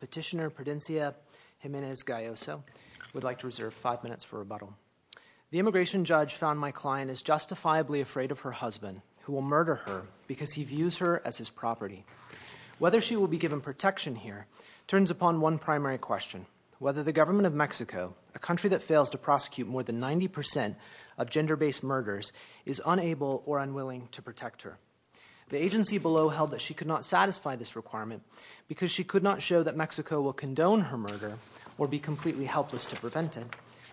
Petitioner Prudencia Jimenez Galloso would like to reserve five minutes for rebuttal. The immigration judge found my client is justifiably afraid of her husband who will murder her because he views her as his property. Whether she will be given protection here turns upon one primary question. Whether the government of Mexico, a country that fails to prosecute more than 90% of gender-based murders is unable or unwilling to protect her. The agency below held that she could not satisfy this requirement because she could not show that Mexico will condone her murder or be completely helpless to prevent it,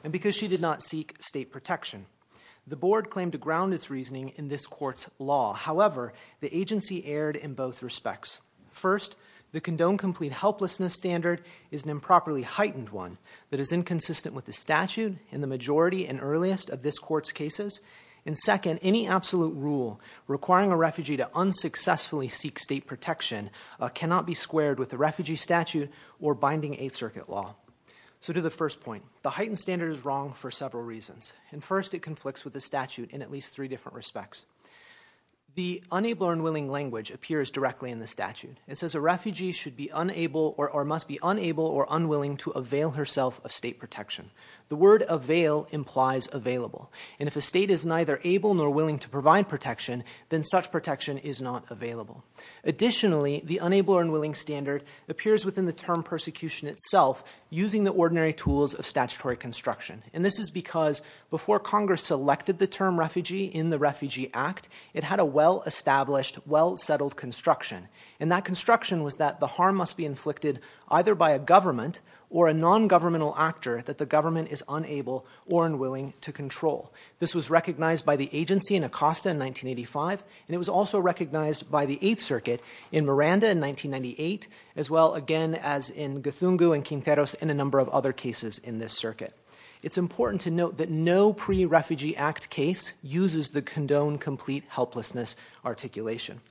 and because she did not seek state protection. The board claimed to ground its reasoning in this court's law. However, the agency erred in both respects. First, the condone complete helplessness standard is an improperly heightened one that is inconsistent with the statute in the majority and earliest of this court's cases. And second, any absolute rule requiring a refugee to unsuccessfully seek state protection cannot be squared with a refugee statute or binding Eighth Circuit law. So to the first point, the heightened standard is wrong for several reasons. And first, it conflicts with the statute in at least three different respects. The unable or unwilling language appears directly in the statute. It says a refugee should be unable or must be unable or unwilling to avail herself of state protection. The word avail implies available. And if a state is neither able nor willing to provide protection, then such protection is not available. Additionally, the unable or unwilling standard appears within the term persecution itself using the ordinary tools of statutory construction. And this is because before Congress selected the term refugee in the Refugee Act, it had a well-established, well-settled construction. And that construction was that the harm must be inflicted either by a government or a non-governmental actor that the government is unable or unwilling to control. This was recognized by the agency in Acosta in 1985, and it was also recognized by the Eighth Circuit in Miranda in 1998, as well, again, as in Guthungu and Quinteros and a number of other cases in this circuit. It's important to note that no pre-Refugee Act case uses the condone complete helplessness articulation.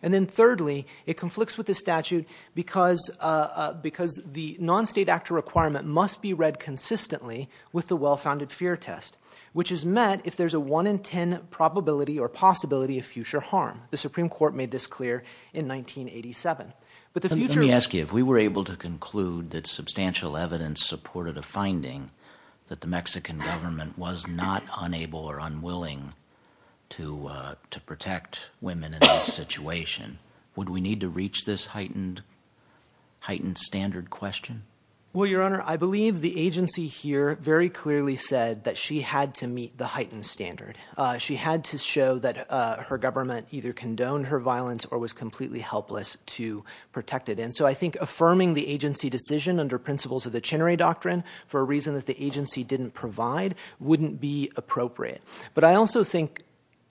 And then thirdly, it conflicts with the statute because the non-state actor requirement must be read consistently with the well-founded fear test, which is met if there's a one in ten probability or possibility of future harm. The Supreme Court made this clear in 1987. But the future... Let me ask you, if we were able to conclude that substantial evidence supported a finding that the Mexican government was not unable or unwilling to protect women in this situation, would we need to reach this heightened standard question? Well, Your Honor, I believe the agency here very clearly said that she had to meet the heightened standard. She had to show that her government either condoned her violence or was completely helpless to protect it. And so I think affirming the agency decision under principles of the Chinere Doctrine, for a reason that the agency didn't provide, wouldn't be appropriate. But I also think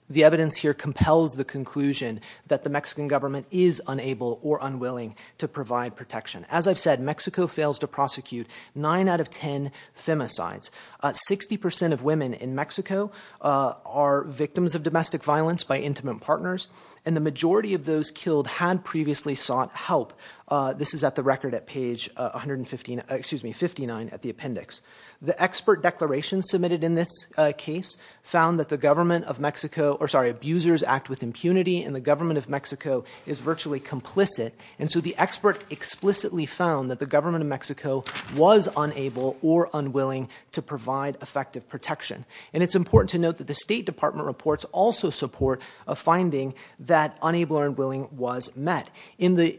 the evidence here compels the conclusion that the Mexican government is unable or unwilling to provide protection. As I've said, Mexico fails to prosecute nine out of ten femicides. Sixty percent of women in Mexico are victims of domestic violence by intimate partners. And the majority of those killed had previously sought help. This is at the record at page 159 at the appendix. The expert declaration submitted in this case found that the government of Mexico... Or sorry, abusers act with impunity and the government of Mexico is virtually complicit. And so the expert explicitly found that the government of Mexico was unable or unwilling to provide effective protection. And it's important to note that the State Department reports also support a finding that unable or unwilling was met. In the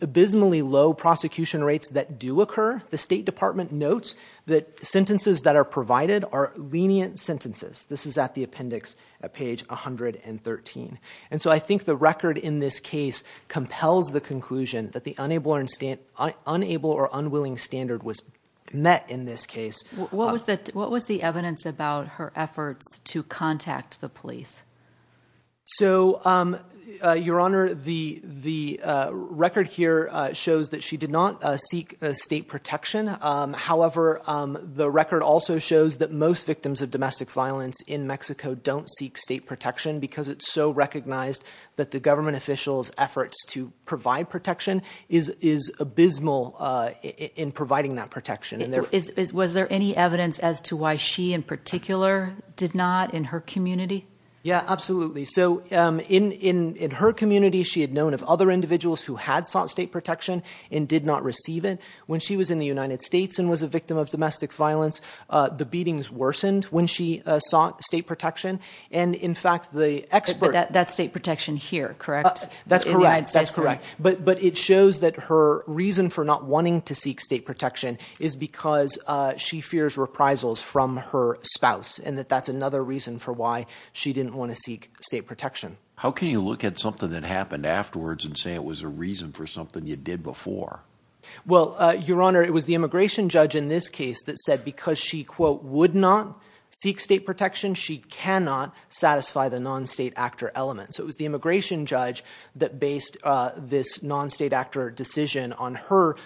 abysmally low prosecution rates that do occur, the State Department notes that sentences that are provided are lenient sentences. This is at the appendix at page 113. And so I think the record in this case compels the conclusion that the unable or unwilling standard was met in this case. What was the evidence about her efforts to contact the police? So Your Honor, the record here shows that she did not seek state protection. However, the record also shows that most victims of domestic violence in Mexico don't seek state protection because it's so recognized that the government officials' efforts to in providing that protection. Was there any evidence as to why she in particular did not in her community? Yeah, absolutely. So in her community, she had known of other individuals who had sought state protection and did not receive it. When she was in the United States and was a victim of domestic violence, the beatings worsened when she sought state protection. And in fact, the expert... That's state protection here, correct? That's correct. But it shows that her reason for not wanting to seek state protection is because she fears reprisals from her spouse and that that's another reason for why she didn't want to seek state protection. How can you look at something that happened afterwards and say it was a reason for something you did before? Well, Your Honor, it was the immigration judge in this case that said because she, quote, would not seek state protection, she cannot satisfy the non-state actor element. So it was the immigration judge that based this non-state actor decision on her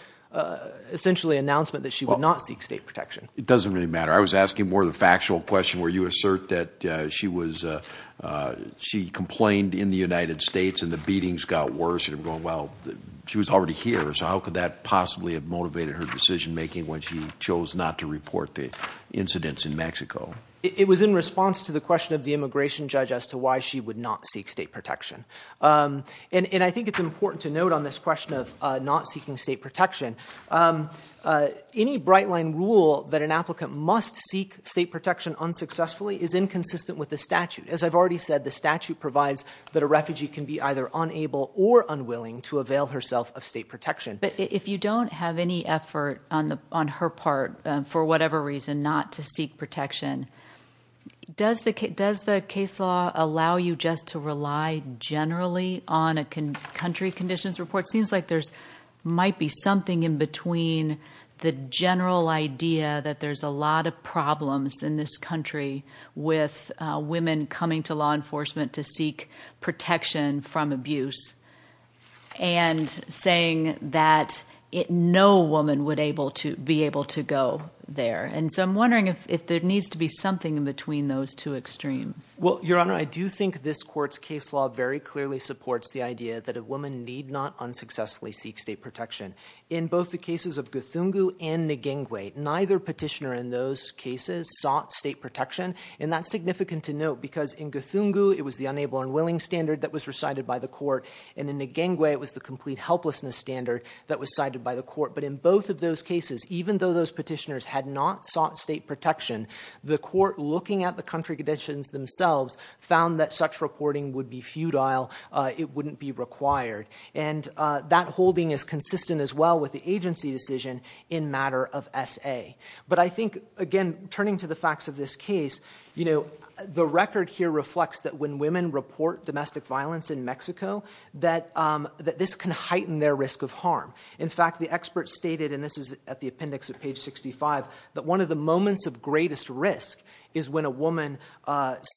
essentially announcement that she would not seek state protection. It doesn't really matter. I was asking more of the factual question where you assert that she was... She complained in the United States and the beatings got worse and going, well, she was already here. So how could that possibly have motivated her decision making when she chose not to report the incidents in Mexico? It was in response to the question of the immigration judge as to why she would not seek state protection. And I think it's important to note on this question of not seeking state protection, any bright line rule that an applicant must seek state protection unsuccessfully is inconsistent with the statute. As I've already said, the statute provides that a refugee can be either unable or unwilling to avail herself of state protection. But if you don't have any effort on her part, for whatever reason, not to seek protection, does the case law allow you just to rely generally on a country conditions report? Seems like there might be something in between the general idea that there's a lot of problems in this country with women coming to law enforcement to seek protection from abuse and saying that no woman would be able to go there. And so I'm wondering if there needs to be something in between those two extremes. Well, Your Honor, I do think this court's case law very clearly supports the idea that a woman need not unsuccessfully seek state protection. In both the cases of Guthungu and Nguengwe, neither petitioner in those cases sought state protection. And that's significant to note because in Guthungu, it was the unable unwilling standard that was recited by the court. And in Nguengwe, it was the complete helplessness standard that was cited by the court. But in both of those cases, even though those petitioners had not sought state protection, the court, looking at the country conditions themselves, found that such reporting would be futile. It wouldn't be required. And that holding is consistent as well with the agency decision in matter of SA. But I think, again, turning to the facts of this case, the record here reflects that when women report domestic violence in Mexico, that this can heighten their risk of harm. In fact, the expert stated, and this is at the appendix at page 65, that one of the moments of greatest risk is when a woman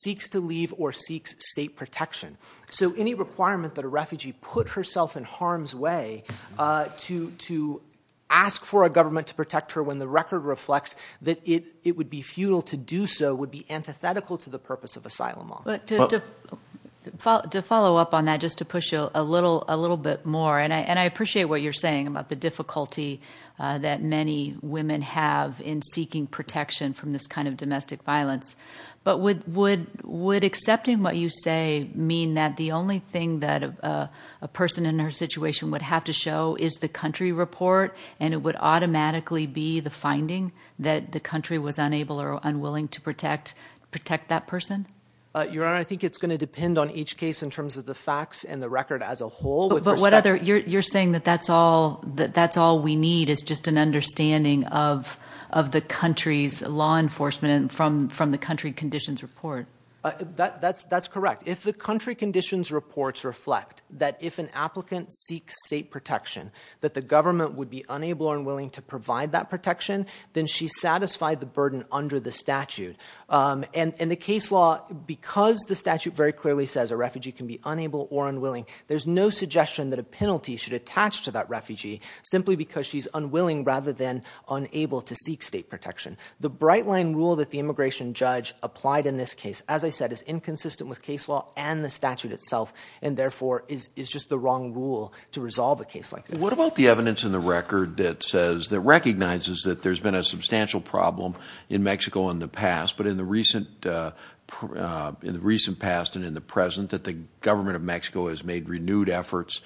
seeks to leave or seeks state protection. So any requirement that a refugee put herself in harm's way to ask for a government to protect her when the record reflects that it would be futile to do so would be antithetical to the purpose of asylum law. To follow up on that, just to push you a little bit more, and I appreciate what you're saying, about the difficulty that many women have in seeking protection from this kind of domestic violence, but would accepting what you say mean that the only thing that a person in their situation would have to show is the country report, and it would automatically be the finding that the country was unable or unwilling to protect that person? Your Honor, I think it's going to depend on each case in terms of the facts and the record as a whole. But what other... You're saying that that's all we need is just an understanding of the country's law enforcement from the country conditions report. That's correct. If the country conditions reports reflect that if an applicant seeks state protection, that the government would be unable or unwilling to provide that protection, then she's satisfied the burden under the statute. And the case law, because the statute very clearly says a refugee can be unable or unwilling, there's no suggestion that a penalty should attach to that refugee simply because she's unwilling rather than unable to seek state protection. The bright line rule that the immigration judge applied in this case, as I said, is inconsistent with case law and the statute itself, and therefore is just the wrong rule to resolve a case like this. What about the evidence in the record that says, that recognizes that there's been a substantial problem in Mexico in the past, but in the recent past and in the present that the government of Mexico has made renewed efforts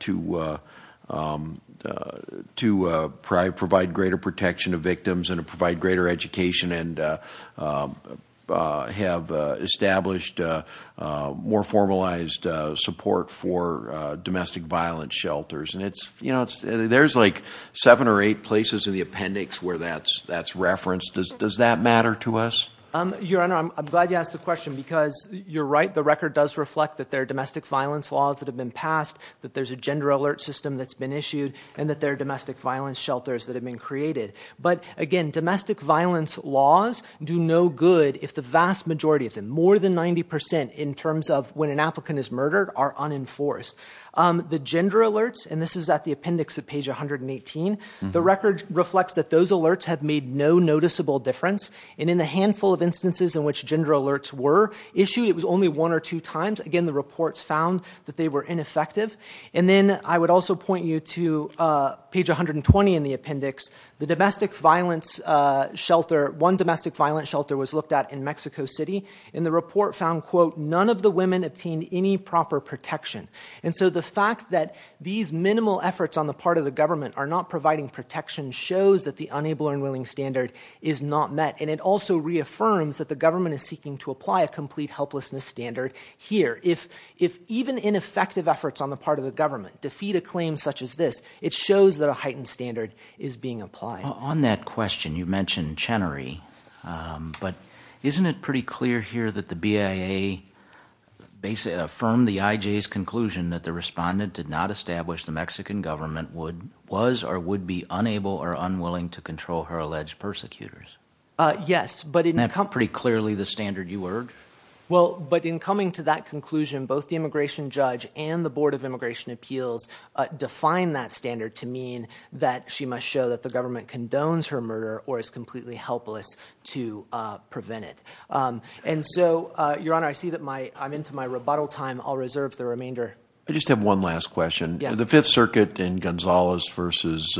to provide greater protection to victims and to provide greater education and have established more formalized support for domestic violent shelters? There's like seven or eight places in the appendix where that's referenced. Does that matter to us? Your Honor, I'm glad you asked the question because you're right. The record does reflect that there are domestic violence laws that have been passed, that there's a gender alert system that's been issued, and that there are domestic violence shelters that have been created. But again, domestic violence laws do no good if the vast majority of them, more than 90 percent in terms of when an applicant is murdered, are unenforced. The gender alerts, and this is at the appendix of page 118, the record reflects that those alerts have made no noticeable difference. And in the handful of instances in which gender alerts were issued, it was only one or two times. Again, the reports found that they were ineffective. And then I would also point you to page 120 in the appendix. The domestic violence shelter, one domestic violence shelter was looked at in Mexico City and the report found, quote, none of the women obtained any proper protection. And so the fact that these minimal efforts on the part of the government are not providing protection shows that the unable and unwilling standard is not met. And it also reaffirms that the government is seeking to apply a complete helplessness standard here. If even ineffective efforts on the part of the government defeat a claim such as this, it shows that a heightened standard is being applied. On that question, you mentioned Chenery. But isn't it pretty clear here that the BIA affirmed the IJ's conclusion that the respondent did not establish the Mexican government was or would be unable or unwilling to control her alleged persecutors? Yes, but in that pretty clearly the standard you heard. Well, but in coming to that conclusion, both the immigration judge and the Board of Immigration Appeals define that standard to mean that she must show that the government condones her murder or is completely helpless to prevent it. And so, Your Honor, I see that my I'm into my rebuttal time. I'll reserve the remainder. I just have one last question. The Fifth Circuit in Gonzales versus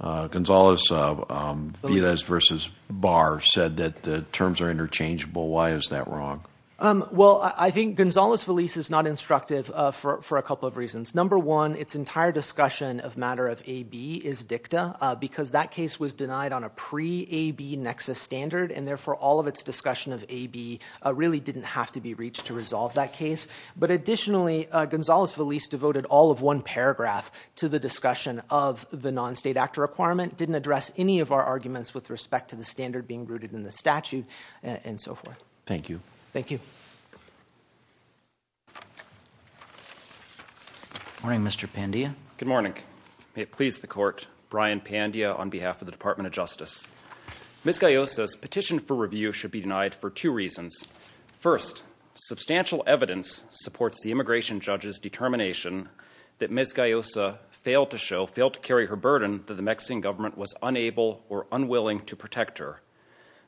Gonzales Villas versus Barr said that the terms are interchangeable. Why is that wrong? Well, I think Gonzales Villas is not instructive for a couple of reasons. Number one, its entire discussion of matter of AB is dicta because that case was denied on a pre AB nexus standard. And therefore, all of its discussion of AB really didn't have to be reached to resolve that case. But additionally, Gonzales Villas devoted all of one paragraph to the discussion of the non-state actor requirement, didn't address any of our arguments with respect to the standard being rooted in the statute and so forth. Thank you. Thank you. Morning, Mr. Pandia, good morning, please. The court, Brian Pandia, on behalf of the Department of Justice, Ms. Gallo says petition for review should be denied for two reasons. First, substantial evidence supports the immigration judge's determination that Ms. Gallo failed to show, failed to carry her burden that the Mexican government was unable or unwilling to protect her.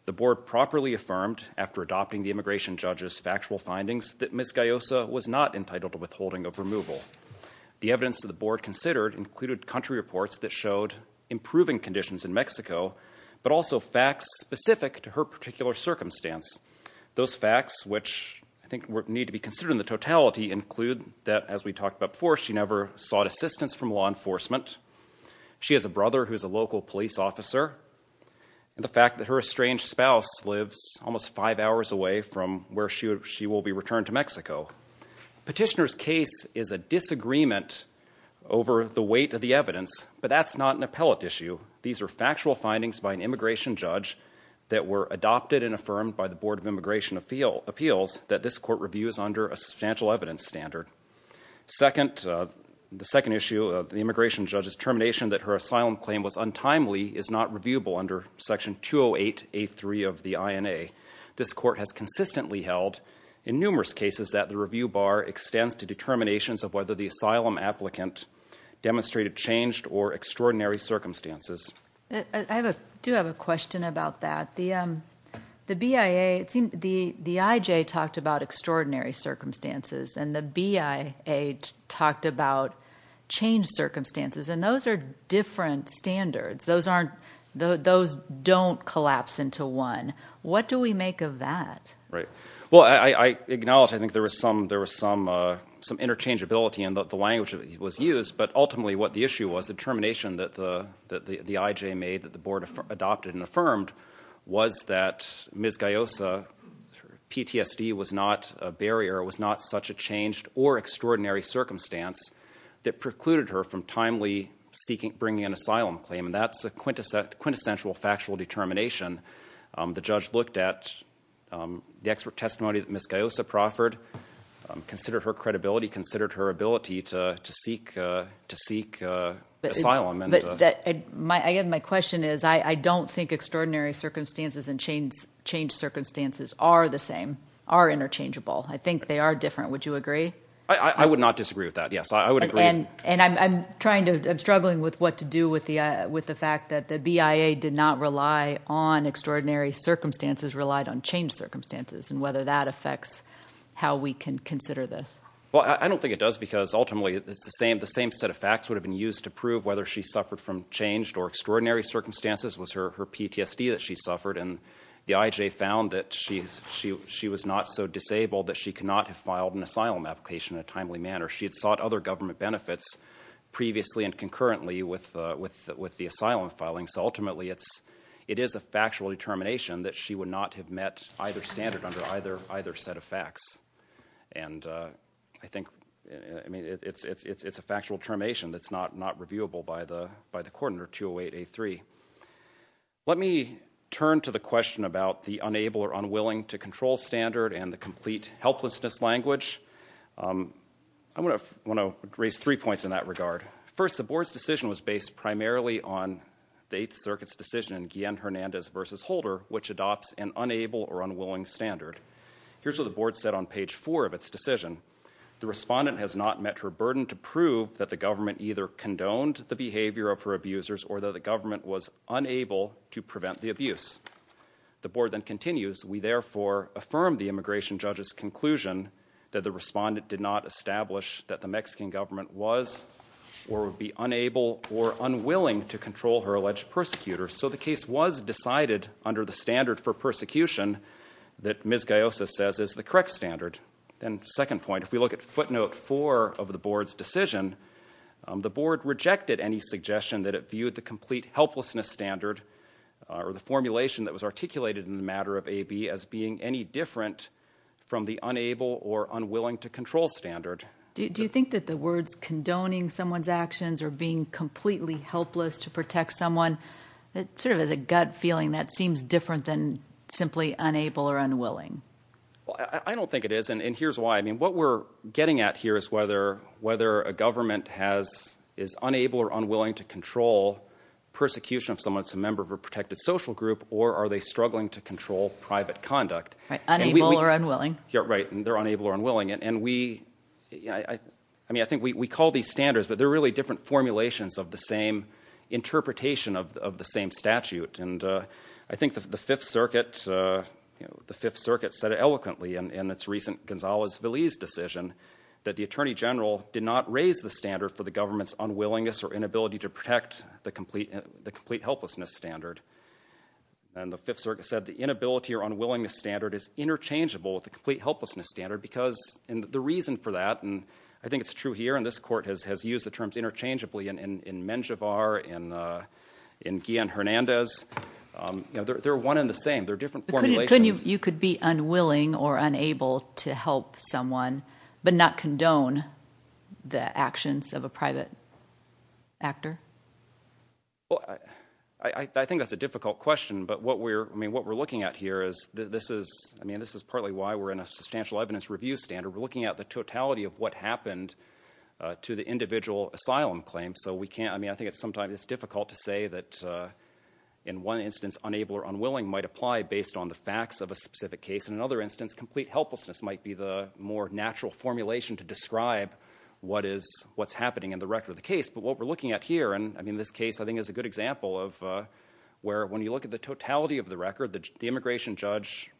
The board properly affirmed after adopting the immigration judge's factual findings that Ms. Gallo was not entitled to withholding of removal. The evidence of the board considered included country reports that showed improving conditions in Mexico, but also facts specific to her particular circumstance. Those facts, which I think need to be considered in the totality, include that, as we talked about before, she never sought assistance from law enforcement. She has a brother who is a local police officer. And the fact that her estranged spouse lives almost five hours away from where she she will be returned to Mexico. Petitioner's case is a disagreement over the weight of the evidence, but that's not an appellate issue. These are factual findings by an immigration judge that were adopted and affirmed by the Board of Immigration Appeals that this court reviews under a substantial evidence standard. Second, the second issue of the immigration judge's determination that her asylum claim was untimely is not reviewable under Section 208A3 of the INA. This court has consistently held in numerous cases that the review bar extends to determinations of whether the asylum applicant demonstrated changed or extraordinary circumstances. I do have a question about that. The the BIA, it seemed the the IJ talked about extraordinary circumstances and the BIA talked about changed circumstances. And those are different standards. Those aren't those don't collapse into one. What do we make of that? Right. Well, I acknowledge I think there was some there was some some interchangeability in the language that was used. But ultimately, what the issue was, the determination that the that the IJ made that the IJ affirmed was that Ms. Gayosa PTSD was not a barrier, was not such a changed or extraordinary circumstance that precluded her from timely seeking bringing an asylum claim. And that's a quintessential, quintessential factual determination. The judge looked at the expert testimony that Ms. Gayosa proffered, considered her credibility, considered her ability to to seek to seek asylum. But my question is, I don't think extraordinary circumstances and change, change circumstances are the same, are interchangeable. I think they are different. Would you agree? I would not disagree with that. Yes, I would agree. And and I'm trying to I'm struggling with what to do with the with the fact that the BIA did not rely on extraordinary circumstances, relied on changed circumstances and whether that affects how we can consider this. Well, I don't think it does, because ultimately it's the same. The same set of facts would have been used to prove whether she suffered from changed or extraordinary circumstances was her her PTSD that she suffered. And the IJ found that she she she was not so disabled that she could not have filed an asylum application in a timely manner. She had sought other government benefits previously and concurrently with with with the asylum filing. So ultimately, it's it is a factual determination that she would not have met either standard under either either set of facts. And I think I mean, it's it's it's it's a factual termination that's not not reviewable by the by the coordinator to await a three. Let me turn to the question about the unable or unwilling to control standard and the complete helplessness language. I want to want to raise three points in that regard. First, the board's decision was based primarily on the Eighth Circuit's decision in Hernandez versus Holder, which adopts an unable or unwilling standard. Here's what the board said on page four of its decision. The respondent has not met her burden to prove that the government either condoned the behavior of her abusers or that the government was unable to prevent the abuse. The board then continues. We therefore affirm the immigration judge's conclusion that the respondent did not establish that the Mexican government was or would be unable or unwilling to control her alleged persecutors. So the case was decided under the standard for persecution that Ms. Gayosa says is the correct standard. Then second point, if we look at footnote four of the board's decision, the board rejected any suggestion that it viewed the complete helplessness standard or the formulation that was articulated in the matter of AB as being any different from the unable or unwilling to control standard. Do you think that the words condoning someone's actions or being completely helpless to sort of as a gut feeling that seems different than simply unable or unwilling? Well, I don't think it is. And here's why. I mean, what we're getting at here is whether whether a government has is unable or unwilling to control persecution of someone. It's a member of a protected social group or are they struggling to control private conduct? Right. Unable or unwilling. You're right. And they're unable or unwilling. And we I mean, I think we call these standards, but they're really different formulations of the same interpretation of the same statute. And I think the Fifth Circuit, the Fifth Circuit said eloquently in its recent Gonzalez-Veliz decision that the attorney general did not raise the standard for the government's unwillingness or inability to protect the complete the complete helplessness standard. And the Fifth Circuit said the inability or unwillingness standard is interchangeable with the complete helplessness standard because the reason for that, and I think it's true here and this court has has used the terms interchangeably in Menjivar and in Guillen-Hernandez, they're one in the same. They're different formulations. You could be unwilling or unable to help someone, but not condone the actions of a private actor? Well, I think that's a difficult question, but what we're I mean, what we're looking at here is this is I mean, this is partly why we're in a substantial evidence review standard. We're looking at the totality of what happened to the individual asylum claim. So we can't I mean, I think it's sometimes it's difficult to say that in one instance, unable or unwilling might apply based on the facts of a specific case. In another instance, complete helplessness might be the more natural formulation to describe what is what's happening in the record of the case. But what we're looking at here and I mean, this case, I think, is a good example of where when you look at the totality of the record, the immigration judge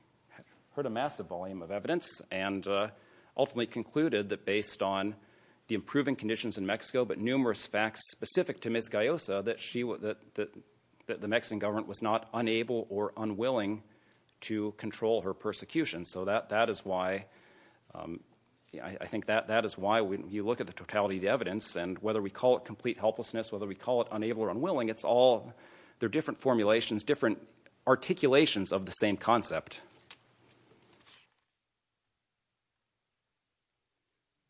heard a ultimately concluded that based on the improving conditions in Mexico, but numerous facts specific to Ms. Gayosa that she that that the Mexican government was not unable or unwilling to control her persecution. So that that is why I think that that is why when you look at the totality of the evidence and whether we call it complete helplessness, whether we call it unable or unwilling, it's all they're different formulations, different articulations of the same concept.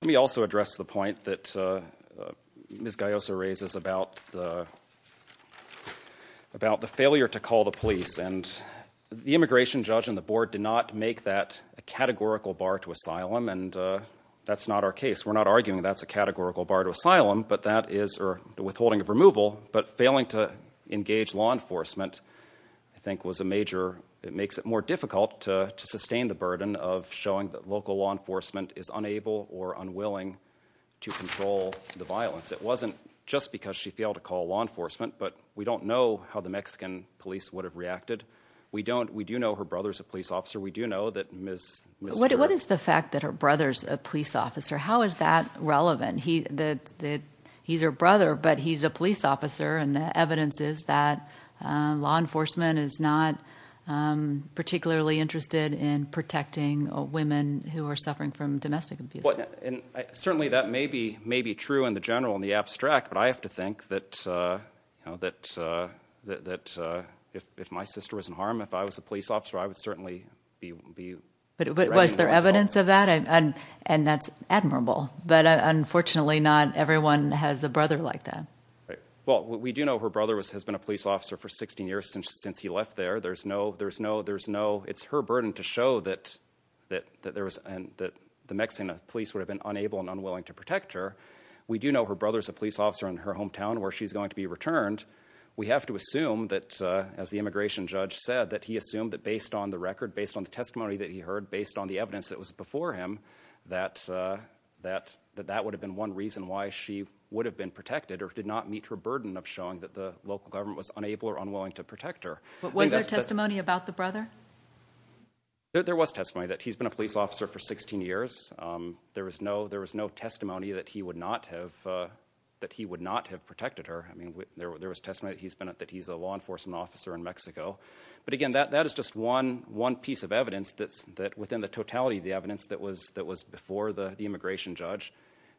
Let me also address the point that Ms. Gayosa raises about the about the failure to call the police and the immigration judge and the board did not make that a categorical bar to asylum. And that's not our case. We're not arguing that's a categorical bar to asylum, but that is or the withholding of removal. But failing to engage law enforcement, I think, was a major it makes it more difficult to sustain the burden of showing that local law enforcement is unable or unwilling to control the violence. It wasn't just because she failed to call law enforcement, but we don't know how the Mexican police would have reacted. We don't. We do know her brother's a police officer. We do know that Miss, what is the fact that her brother's a police officer? How is that relevant? He that that he's her brother, but he's a police officer. And the evidence is that law enforcement is not particularly interested in protecting women who are suffering from domestic abuse. And certainly that may be may be true in the general, in the abstract. But I have to think that, you know, that that that if if my sister was in harm, if I was a police officer, I would certainly be. But was there evidence of that? And that's admirable. But unfortunately, not everyone has a brother like that. Well, we do know her brother was has been a police officer for 16 years since since he left there. There's no there's no there's no it's her burden to show that that that there was and that the Mexican police would have been unable and unwilling to protect her. We do know her brother's a police officer in her hometown where she's going to be returned. We have to assume that as the immigration judge said that he assumed that based on the record, based on the testimony that he heard, based on the evidence that was before him, that that that that would have been one reason why she would have been protected or did not meet her burden of showing that the local government was unable or unwilling to protect her. But was there testimony about the brother? There was testimony that he's been a police officer for 16 years. There was no there was no testimony that he would not have that he would not have protected her. I mean, there was testimony that he's been that he's a law enforcement officer in Mexico. But again, that that is just one one piece of evidence that's that within the totality of the evidence that was that was before the immigration judge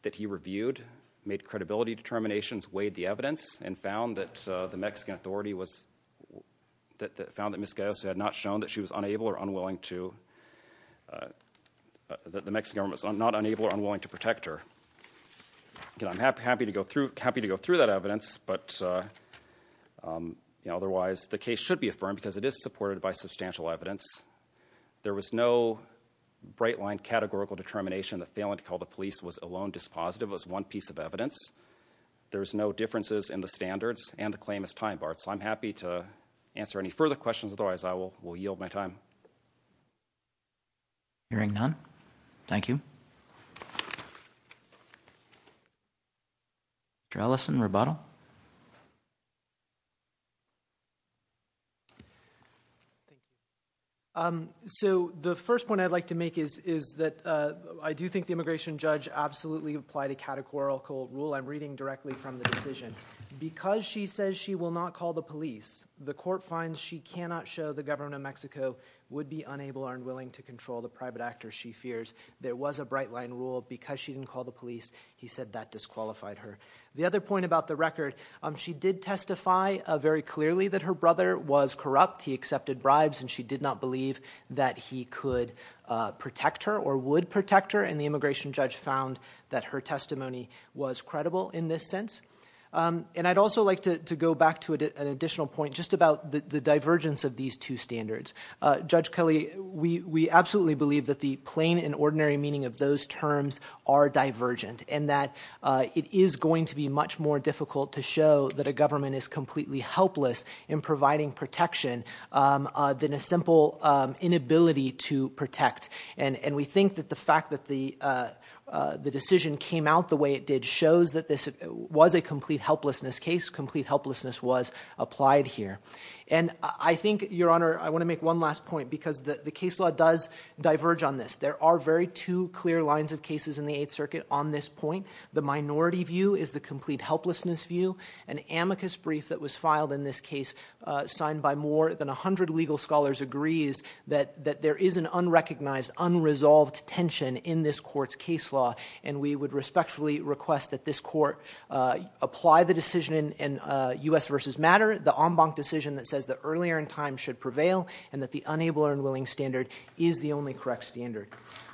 that he reviewed, made credibility determinations, weighed the evidence and found that the Mexican authority was that found that misguided had not shown that she was unable or unwilling to that the Mexican government is not unable or unwilling to protect her. I'm happy to go through happy to go through that evidence. But otherwise, the case should be affirmed because it is supported by substantial evidence. There was no bright line categorical determination that failing to call the evidence. There's no differences in the standards and the claim is time barred. So I'm happy to answer any further questions. Otherwise, I will will yield my time. Hearing none, thank you. Allison, rebuttal. So the first point I'd like to make is, is that I do think the immigration judge absolutely applied a categorical rule. I'm reading directly from the decision because she says she will not call the police. The court finds she cannot show the government of Mexico would be unable or unwilling to control the private actor. She fears there was a bright line rule because she didn't call the police. He said that disqualified her. The other point about the record, she did testify very clearly that her brother was corrupt. He accepted bribes and she did not believe that he could protect her or would protect her. And the immigration judge found that her testimony was credible in this sense. And I'd also like to go back to an additional point just about the divergence of these two standards. Judge Kelly, we absolutely believe that the plain and ordinary meaning of those terms are divergent and that it is going to be much more difficult to show that a government is completely helpless in providing protection than a simple inability to protect. And we think that the fact that the decision came out the way it did shows that this was a complete helplessness case. Complete helplessness was applied here. And I think, Your Honor, I want to make one last point because the case law does diverge on this. There are very two clear lines of cases in the Eighth Circuit on this point. The minority view is the complete helplessness view. An amicus brief that was filed in this case signed by more than 100 legal scholars agrees that there is an unrecognized, unresolved tension in this court's case law. And we would respectfully request that this court apply the decision in U.S. vs. Matter, the en banc decision that says that earlier in time should prevail and that the unable and willing standard is the only correct standard.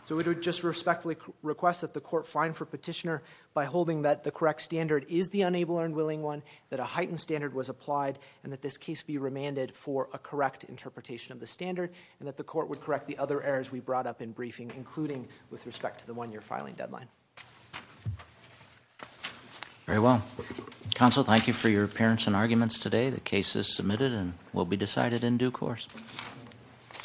So we would just respectfully request that the court find for petitioner by holding that the correct standard is the unable and willing one, that a heightened standard was and that the court would correct the other errors we brought up in briefing, including with respect to the one year filing deadline. Very well, counsel, thank you for your appearance and arguments today. The case is submitted and will be decided in due course.